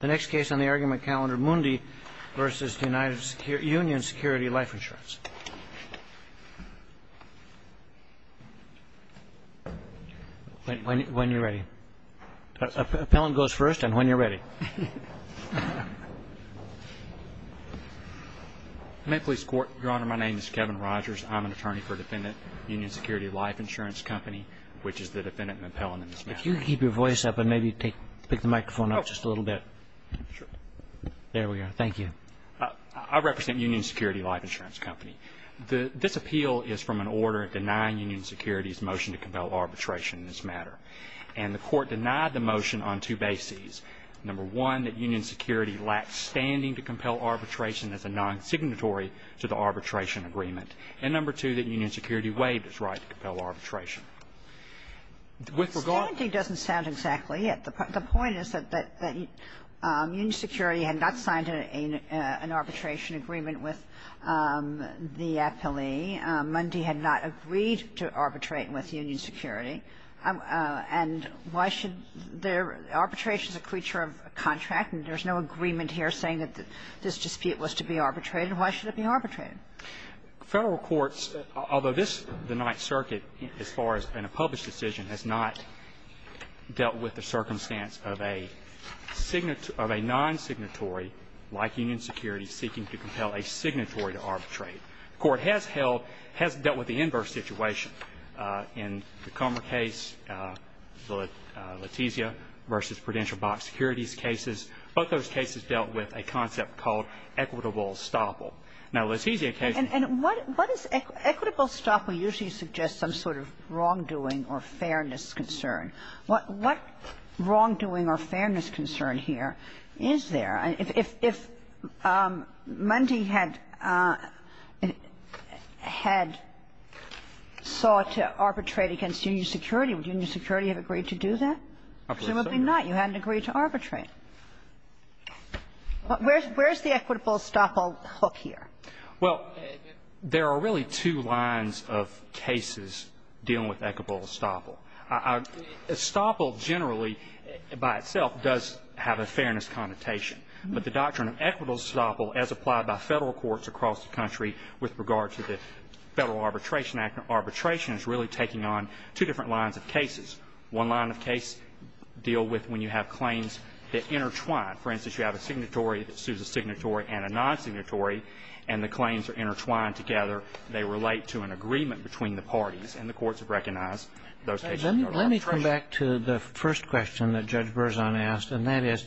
Insurance Company, which is the defendant and the appellant in this matter. Okay. Thank you. The next case on the argument calendar, Mundi v. United Union Security Life Insurance. When you're ready. Appellant goes first, and when you're ready. May it please the Court? Your Honor, my name is Kevin Rogers. I'm an attorney for a defendant, Union Security Life Insurance Company, which is the defendant and the appellant in this matter. If you could keep your voice up and maybe pick the microphone up just a little bit. Sure. There we are. Thank you. I represent Union Security Life Insurance Company. This appeal is from an order denying Union Security's motion to compel arbitration in this matter. And the Court denied the motion on two bases. Number one, that Union Security lacks standing to compel arbitration as a non-signatory to the arbitration agreement. And number two, that Union Security waived its right to compel arbitration. With regard to the ---- Standing doesn't sound exactly it. The point is that Union Security had not signed an arbitration agreement with the appellee. Mundi had not agreed to arbitrate with Union Security. And why should their ---- arbitration is a creature of contract, and there's no agreement here saying that this dispute was to be arbitrated. Why should it be arbitrated? Federal courts, although this, the Ninth Circuit, as far as in a published decision, has not dealt with the circumstance of a non-signatory like Union Security seeking to compel a signatory to arbitrate. The Court has held, has dealt with the inverse situation. In the Comer case, the Letizia v. Prudential Box Securities cases, both those cases dealt with a concept called equitable estoppel. Now, Letizia case ---- Kagan. And what is equitable estoppel usually suggests some sort of wrongdoing or fairness concern. What wrongdoing or fairness concern here is there? If Mundi had sought to arbitrate against Union Security, would Union Security have agreed to do that? Presumably not. You hadn't agreed to arbitrate. Where is the equitable estoppel hook here? Well, there are really two lines of cases dealing with equitable estoppel. Estoppel generally, by itself, does have a fairness connotation. But the doctrine of equitable estoppel, as applied by Federal courts across the country with regard to the Federal Arbitration Act, arbitration is really taking on two different lines of cases. One line of case deal with when you have claims that intertwine. For instance, you have a signatory that sues a signatory and a non-signatory, and the claims are intertwined together. They relate to an agreement between the parties, and the courts have recognized those cases are arbitration. Let me come back to the first question that Judge Berzon asked, and that is,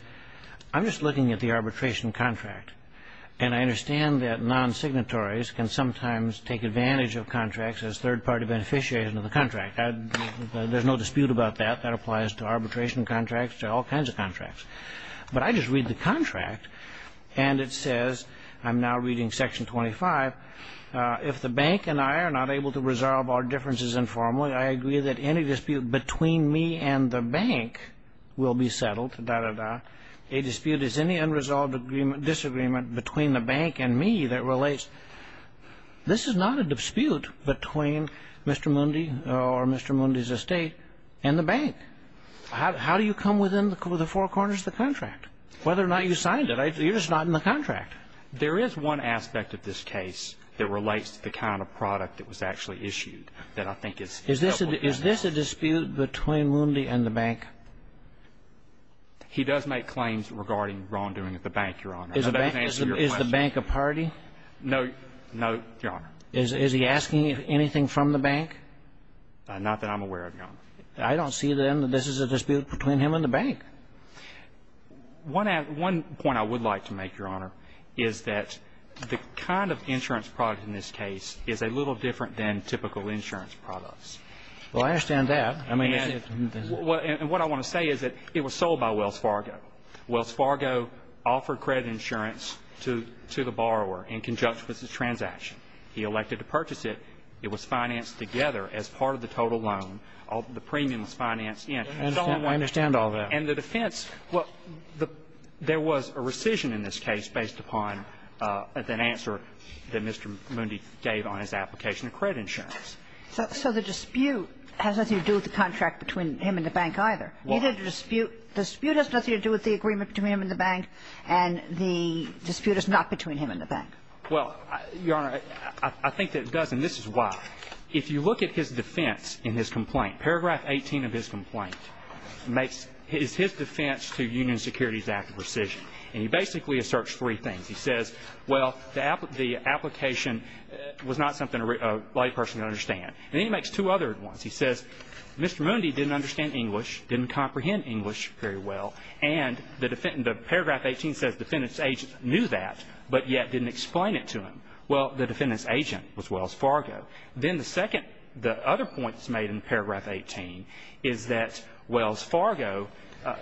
I'm just looking at the arbitration contract, and I understand that non-signatories can sometimes take advantage of contracts as third-party beneficiaries of the contract. There's no dispute about that. That applies to arbitration contracts, to all kinds of contracts. But I just read the contract, and it says, I'm now reading section 25, if the bank and I are not able to resolve our differences informally, I agree that any dispute between me and the bank will be settled, da-da-da. A dispute is any unresolved disagreement between the bank and me that relates. This is not a dispute between Mr. Mundy or Mr. Mundy's estate and the bank. How do you come within the four corners of the contract? Whether or not you signed it, you're just not in the contract. There is one aspect of this case that relates to the kind of product that was actually issued that I think is helpful. Is this a dispute between Mundy and the bank? He does make claims regarding wrongdoing at the bank, Your Honor. Is the bank a party? No, Your Honor. Is he asking anything from the bank? Not that I'm aware of, Your Honor. I don't see, then, that this is a dispute between him and the bank. One point I would like to make, Your Honor, is that the kind of insurance product in this case is a little different than typical insurance products. Well, I understand that. And what I want to say is that it was sold by Wells Fargo. Wells Fargo offered credit insurance to the borrower in conjunction with the transaction. He elected to purchase it. It was financed together as part of the total loan. The premium was financed in. I understand all that. And the defense, well, there was a rescission in this case based upon an answer that Mr. Mundy gave on his application of credit insurance. So the dispute has nothing to do with the contract between him and the bank, either. Why? The dispute has nothing to do with the agreement between him and the bank, and the dispute is not between him and the bank. Well, Your Honor, I think that it does, and this is why. If you look at his defense in his complaint, paragraph 18 of his complaint is his defense to Union Securities Act rescission. And he basically asserts three things. He says, well, the application was not something a layperson could understand. And then he makes two other ones. He says Mr. Mundy didn't understand English, didn't comprehend English very well, and the paragraph 18 says the defendant's agent knew that but yet didn't explain it to him. Well, the defendant's agent was Wells Fargo. Then the second, the other point that's made in paragraph 18 is that Wells Fargo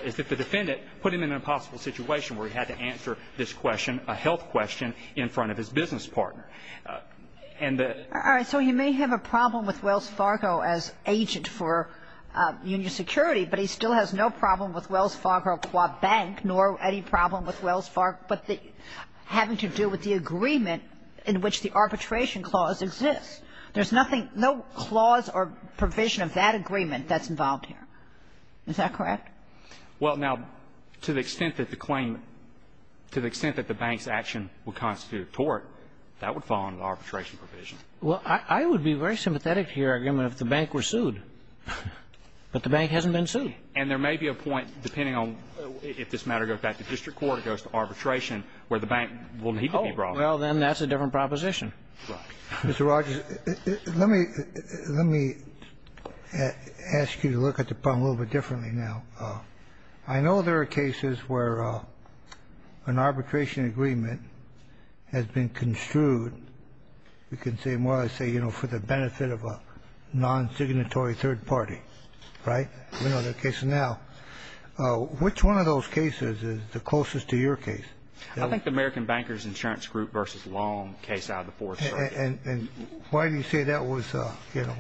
is that the defendant put him in an impossible situation where he had to answer this question, a health question, in front of his business partner. And the ---- All right. So he may have a problem with Wells Fargo as agent for Union Security, but he still has no problem with Wells Fargo qua bank nor any problem with Wells Fargo but the having to do with the agreement in which the arbitration clause exists. There's nothing, no clause or provision of that agreement that's involved here. Is that correct? Well, now, to the extent that the claim to the extent that the bank's action will constitute a tort, that would fall under the arbitration provision. Well, I would be very sympathetic to your argument if the bank were sued, but the bank hasn't been sued. And there may be a point, depending on if this matter goes back to district court, goes to arbitration, where the bank will need to be brought in. Well, then that's a different proposition. Right. Mr. Rogers, let me ask you to look at the problem a little bit differently now. I know there are cases where an arbitration agreement has been construed, you can say, more or less, say, you know, for the benefit of a non-signatory third party. Right? We know that case now. Which one of those cases is the closest to your case? I think the American Bankers Insurance Group v. Long case out of the Fourth Circuit. And why do you say that was, you know?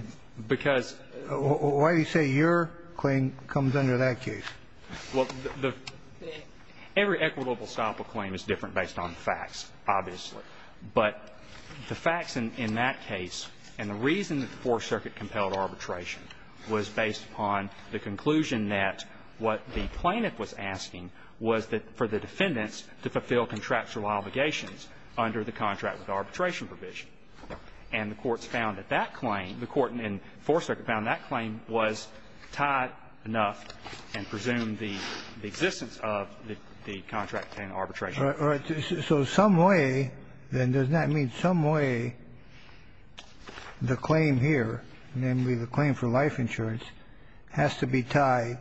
Because. Why do you say your claim comes under that case? Well, every equitable style of claim is different based on facts, obviously. But the facts in that case and the reason that the Fourth Circuit compelled arbitration was based upon the conclusion that what the plaintiff was asking was that for the defendants to fulfill contractual obligations under the contract with arbitration provision. And the courts found that that claim, the court in the Fourth Circuit found that claim was tight enough and presumed the existence of the contract in arbitration. All right. So some way, then, doesn't that mean some way the claim here, namely the claim for life insurance, has to be tied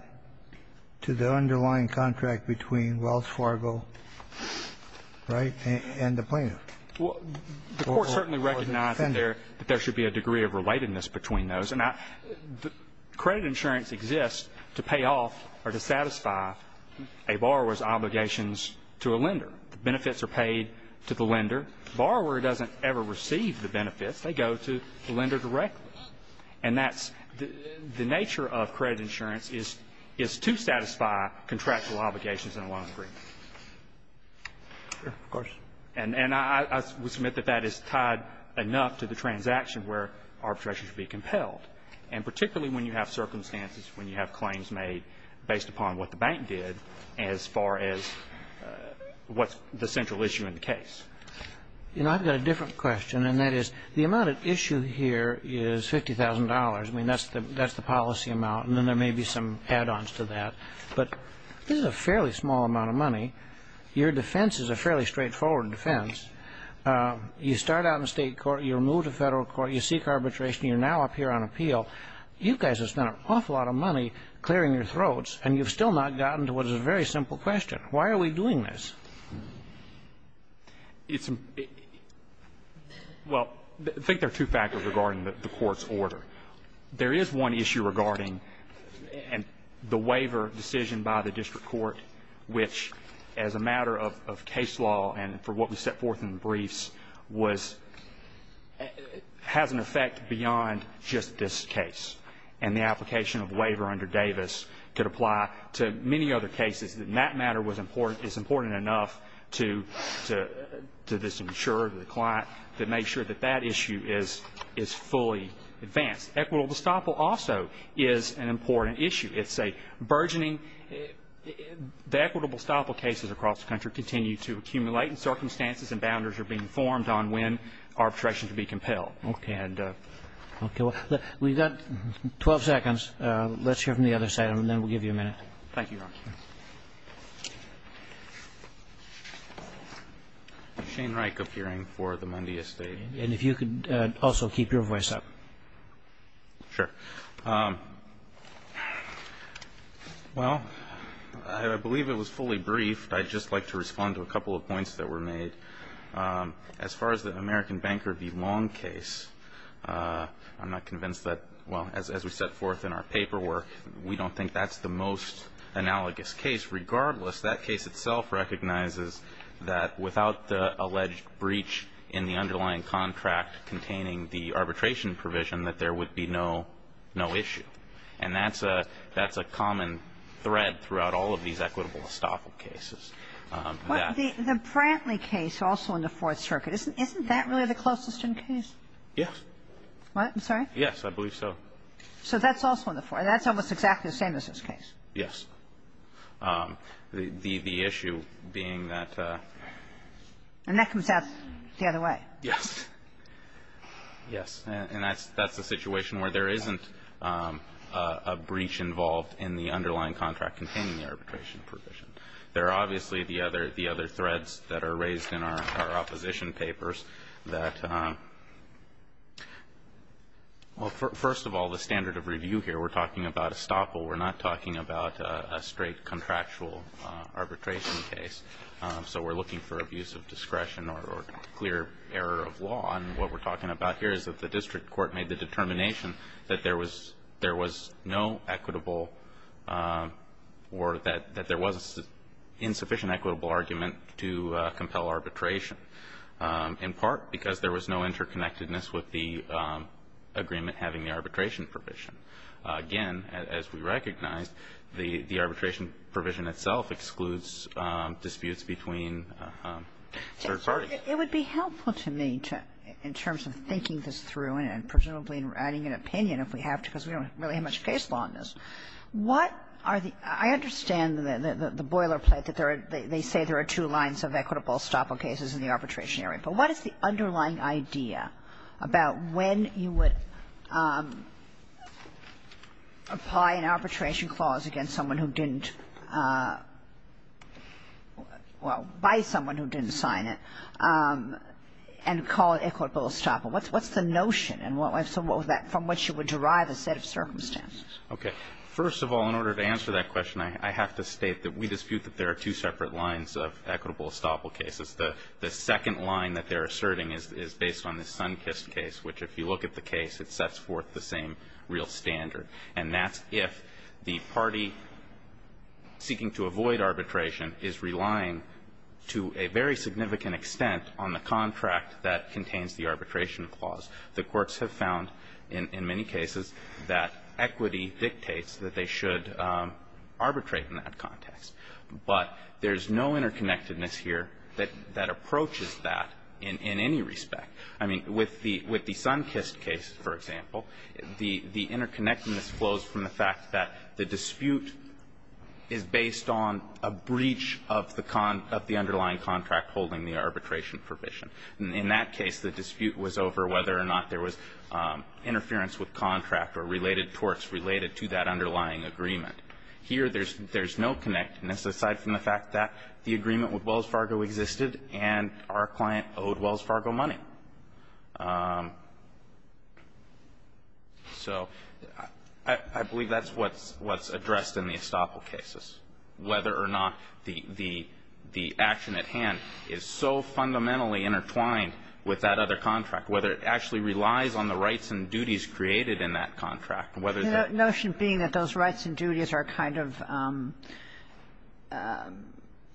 to the underlying contract between Wells Fargo, right, and the plaintiff? Well, the court certainly recognized that there should be a degree of relatedness between those. And credit insurance exists to pay off or to satisfy a borrower's obligations to a lender. The benefits are paid to the lender. The borrower doesn't ever receive the benefits. They go to the lender directly. And that's the nature of credit insurance is to satisfy contractual obligations in a loan agreement. Of course. And I would submit that that is tied enough to the transaction where arbitration should be compelled, and particularly when you have circumstances, when you have claims made based upon what the bank did as far as what's the central issue in the case. You know, I've got a different question, and that is the amount at issue here is $50,000. I mean, that's the policy amount. And then there may be some add-ons to that. But this is a fairly small amount of money. Your defense is a fairly straightforward defense. You start out in state court. You're moved to federal court. You seek arbitration. You're now up here on appeal. You guys have spent an awful lot of money clearing your throats, and you've still not gotten to what is a very simple question. Why are we doing this? Well, I think there are two factors regarding the court's order. There is one issue regarding the waiver decision by the district court, which as a matter of case law and for what we set forth in the briefs, was has an effect beyond just this case. And the application of waiver under Davis could apply to many other cases. And that matter is important enough to this insurer, the client, to make sure that that issue is fully advanced. Equitable estoppel also is an important issue. It's a burgeoning the equitable estoppel cases across the country continue to accumulate and circumstances and boundaries are being formed on when arbitration can be compelled. Okay. We've got 12 seconds. Let's hear from the other side, and then we'll give you a minute. Thank you, Ron. Shane Reich, appearing for the Monday estate. And if you could also keep your voice up. Sure. Well, I believe it was fully briefed. I'd just like to respond to a couple of points that were made. As far as the American Banker v. Long case, I'm not convinced that, well, as we set forth in our paperwork, we don't think that's the most analogous case. Regardless, that case itself recognizes that without the alleged breach in the underlying contract containing the arbitration provision, that there would be no issue. And that's a common thread throughout all of these equitable estoppel cases. Well, the Brantley case, also in the Fourth Circuit, isn't that really the closest in case? Yes. What? I'm sorry? Yes, I believe so. So that's also in the Fourth. That's almost exactly the same as this case. Yes. The issue being that the other way. Yes. Yes. And that's the situation where there isn't a breach involved in the underlying contract containing the arbitration provision. There are obviously the other threads that are raised in our opposition papers that – well, first of all, the standard of review here, we're talking about estoppel. We're not talking about a straight contractual arbitration case. So we're looking for abuse of discretion or clear error of law. And what we're talking about here is that the district court made the determination that there was no equitable or that there was insufficient equitable argument to compel arbitration, in part because there was no interconnectedness with the agreement having the arbitration provision. Again, as we recognize, the arbitration provision itself excludes disputes between third parties. It would be helpful to me to – in terms of thinking this through and presumably adding an opinion if we have to because we don't really have much case law on this. What are the – I understand the boilerplate that there are – they say there are two lines of equitable estoppel cases in the arbitration area. But what is the underlying idea about when you would apply an arbitration clause against someone who didn't – well, by someone who didn't sign it and call it equitable estoppel? What's the notion? And what was that – from which you would derive a set of circumstances? Okay. First of all, in order to answer that question, I have to state that we dispute that there are two separate lines of equitable estoppel cases. The second line that they're asserting is based on the Sunkist case, which, if you look at the case, it sets forth the same real standard. And that's if the party seeking to avoid arbitration is relying to a very significant extent on the contract that contains the arbitration clause. The courts have found in many cases that equity dictates that they should arbitrate in that context. But there's no interconnectedness here that approaches that in any respect. I mean, with the Sunkist case, for example, the interconnectedness flows from the fact that the dispute is based on a breach of the underlying contract holding the arbitration provision. In that case, the dispute was over whether or not there was interference with contract or related torts related to that underlying agreement. Here, there's no connectedness aside from the fact that the agreement with Wells Fargo existed and our client owed Wells Fargo money. So I believe that's what's addressed in the estoppel cases, whether or not the action at hand is so fundamentally intertwined with that other contract, whether it actually relies on the rights and duties created in that contract, whether that -- Kagan. The notion being that those rights and duties are kind of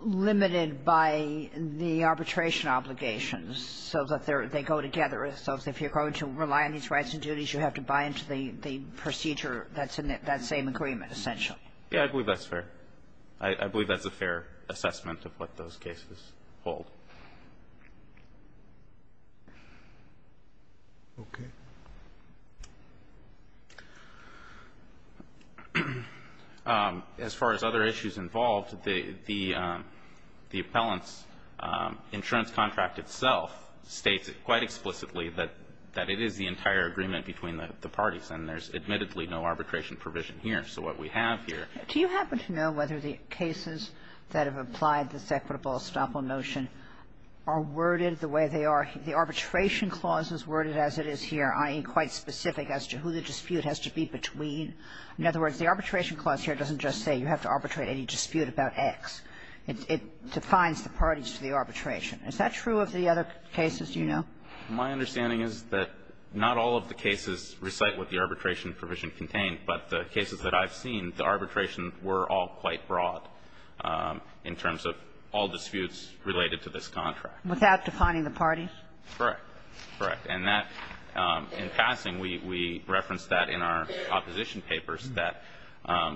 limited by the arbitration obligations so that they go together. So if you're going to rely on these rights and duties, you have to buy into the procedure that's in that same agreement essentially. Yeah. I believe that's fair. I believe that's a fair assessment of what those cases hold. Okay. As far as other issues involved, the appellant's insurance contract itself states quite explicitly that it is the entire agreement between the parties, and there's admittedly no arbitration provision here. So what we have here --- The arbitration clauses worded as it is here, i.e., quite specific as to who the dispute has to be between. In other words, the arbitration clause here doesn't just say you have to arbitrate any dispute about X. It defines the parties to the arbitration. Is that true of the other cases you know? My understanding is that not all of the cases recite what the arbitration provision contained, but the cases that I've seen, the arbitration were all quite broad in terms of all disputes related to this contract. Without defining the parties? Correct. Correct. And that, in passing, we referenced that in our opposition papers, that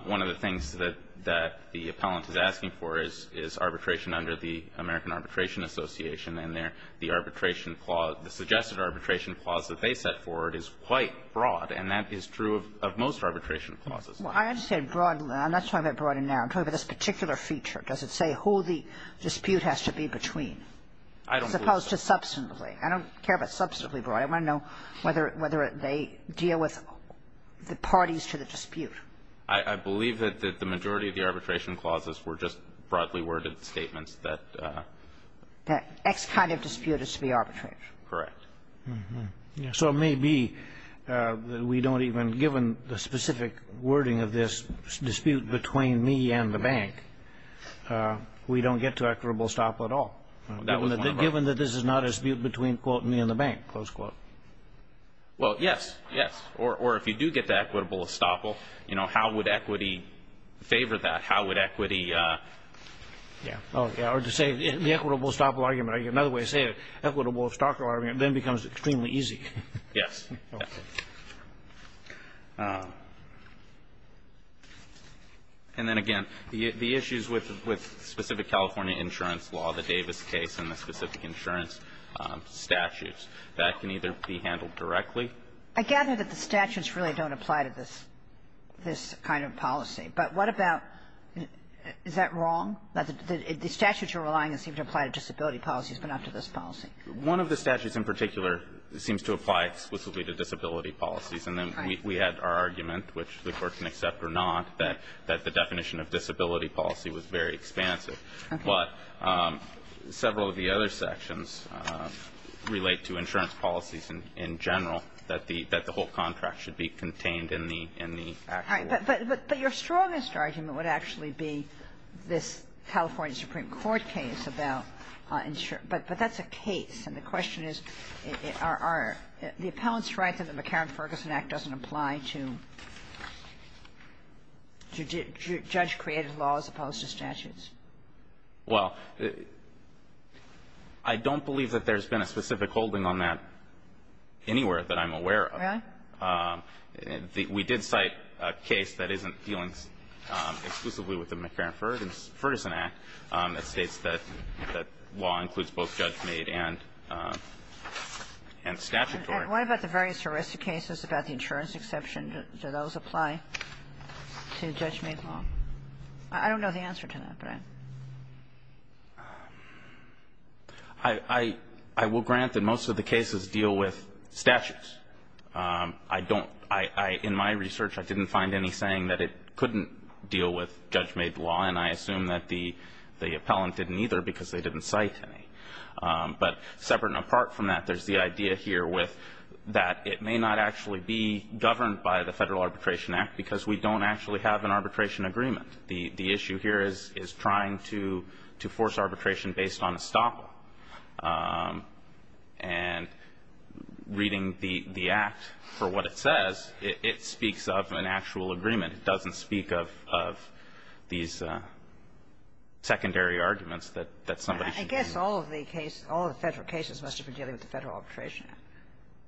one of the things that the appellant is asking for is arbitration under the American Arbitration Association, and the arbitration clause, the suggested arbitration clause that they set forward is quite broad, and that is true of most arbitration clauses. Well, I understand broad. I'm not talking about broad and narrow. I'm talking about this particular feature. Does it say who the dispute has to be between? I don't believe so. As opposed to substantively. I don't care about substantively broad. I want to know whether they deal with the parties to the dispute. I believe that the majority of the arbitration clauses were just broadly worded statements that ---- That X kind of dispute is to be arbitrated. Correct. So it may be that we don't even, given the specific wording of this dispute between me and the bank, we don't get to equitable estoppel at all, given that this is not a dispute between, quote, me and the bank, close quote. Well, yes. Yes. Or if you do get to equitable estoppel, you know, how would equity favor that? How would equity ---- Yeah. Or to say the equitable estoppel argument. Another way to say it, equitable estoppel argument then becomes extremely easy. Yes. Okay. And then, again, the issues with specific California insurance law, the Davis case and the specific insurance statutes, that can either be handled directly. I gather that the statutes really don't apply to this kind of policy. But what about ---- Is that wrong? The statutes you're relying on seem to apply to disability policies, but not to this policy. One of the statutes in particular seems to apply exclusively to disability policies. And then we had our argument, which the Court can accept or not, that the definition of disability policy was very expansive. Okay. But several of the other sections relate to insurance policies in general, that the whole contract should be contained in the actual ---- All right. But your strongest argument would actually be this California Supreme Court case about insurance. But that's a case. And the question is, are the appellant's rights under the McCarran-Ferguson Act doesn't apply to judge-created laws opposed to statutes? Well, I don't believe that there's been a specific holding on that anywhere that I'm aware of. Really? We did cite a case that isn't dealing exclusively with the McCarran-Ferguson Act that states that law includes both judge-made and statutory. And what about the various ERISA cases about the insurance exception? Do those apply to judge-made law? I don't know the answer to that, but I'm ---- I will grant that most of the cases deal with statutes. I don't ---- In my research, I didn't find any saying that it couldn't deal with judge-made law, and I assume that the appellant didn't either because they didn't cite any. But separate and apart from that, there's the idea here with that it may not actually be governed by the Federal Arbitration Act because we don't actually have an arbitration agreement. The issue here is trying to force arbitration based on estoppel. And reading the Act for what it says, it speaks of an actual agreement. It doesn't speak of these secondary arguments that somebody should use. I guess all of the case ---- all of the Federal cases must have been dealing with the Federal Arbitration Act.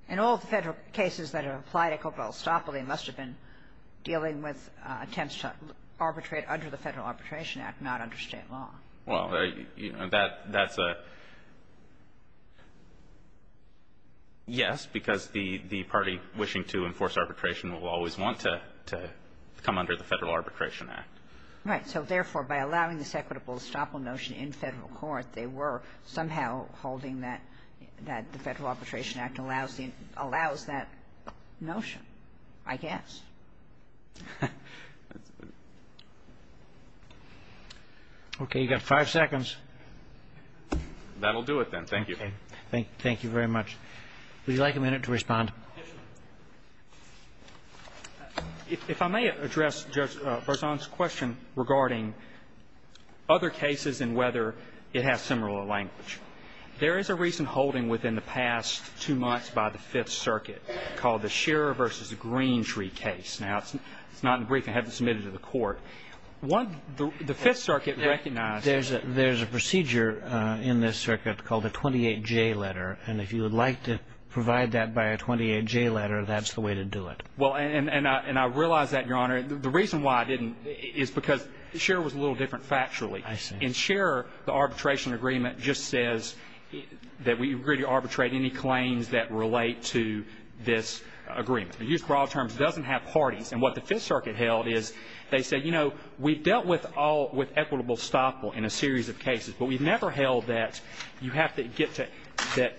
And all of the Federal cases that apply to corporal estoppel, they must have been attempts to arbitrate under the Federal Arbitration Act, not under State law. Well, that's a ---- yes, because the party wishing to enforce arbitration will always want to come under the Federal Arbitration Act. Right. So, therefore, by allowing this equitable estoppel notion in Federal court, they were somehow holding that the Federal Arbitration Act allows that notion, I guess. Okay. You've got five seconds. That will do it then. Thank you. Thank you very much. Would you like a minute to respond? If I may address Judge Berzon's question regarding other cases and whether it has similar language. There is a recent holding within the past two months by the Fifth Circuit called the Shearer v. Greentree case. Now, it's not in the brief. I haven't submitted it to the court. The Fifth Circuit recognized that. There's a procedure in this circuit called the 28J letter. And if you would like to provide that by a 28J letter, that's the way to do it. Well, and I realize that, Your Honor. The reason why I didn't is because Shearer was a little different factually. I see. In Shearer, the arbitration agreement just says that we agree to arbitrate any claims that relate to this agreement. They use broad terms. It doesn't have parties. And what the Fifth Circuit held is they said, you know, we've dealt with all of equitable estoppel in a series of cases, but we've never held that you have to get to that.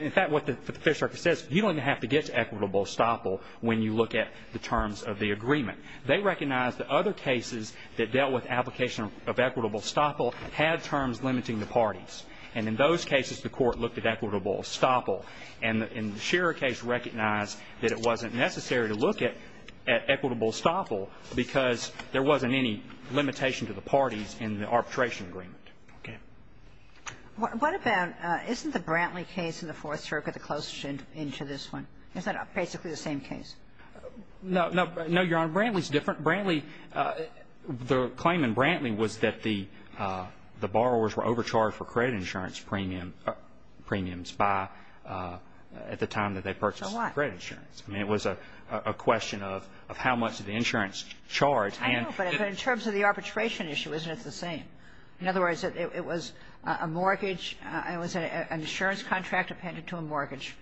In fact, what the Fifth Circuit says, you don't even have to get to equitable estoppel when you look at the terms of the agreement. They recognized that other cases that dealt with application of equitable estoppel had terms limiting the parties. And in those cases, the court looked at equitable estoppel. And the Shearer case recognized that it wasn't necessary to look at equitable estoppel because there wasn't any limitation to the parties in the arbitration agreement. Okay. What about, isn't the Brantley case in the Fourth Circuit the closest into this one? Isn't that basically the same case? No, Your Honor. Brantley's different. Brantley, the claim in Brantley was that the borrowers were overcharged for credit insurance premiums by, at the time that they purchased the credit insurance. So what? I mean, it was a question of how much did the insurance charge. I know, but in terms of the arbitration issue, isn't it the same? In other words, it was a mortgage, it was an insurance contract appended to a mortgage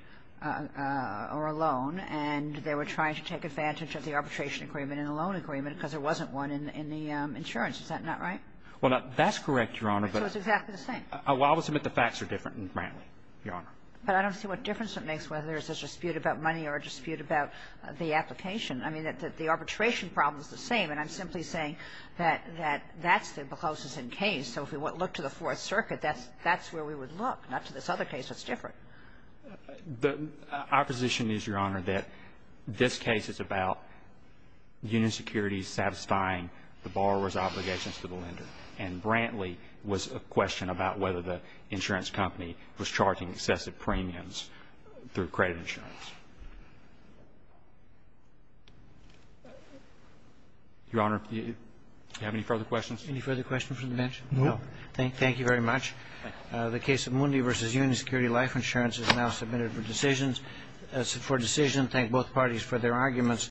or a loan, and they were trying to take advantage of the arbitration agreement and the loan agreement because there wasn't one in the insurance. Is that not right? Well, that's correct, Your Honor. So it's exactly the same. I will submit the facts are different in Brantley, Your Honor. But I don't see what difference it makes whether there's a dispute about money or a dispute about the application. I mean, the arbitration problem is the same, and I'm simply saying that that's the closest in case. So if we look to the Fourth Circuit, that's where we would look, not to this other case. It's different. Our position is, Your Honor, that this case is about union securities satisfying the borrower's obligations to the lender. And Brantley was a question about whether the insurance company was charging excessive premiums through credit insurance. Your Honor, do you have any further questions? Any further questions from the bench? No. Thank you very much. The case of Mooney v. Union Security Life Insurance is now submitted for decision. Thank both parties for their arguments.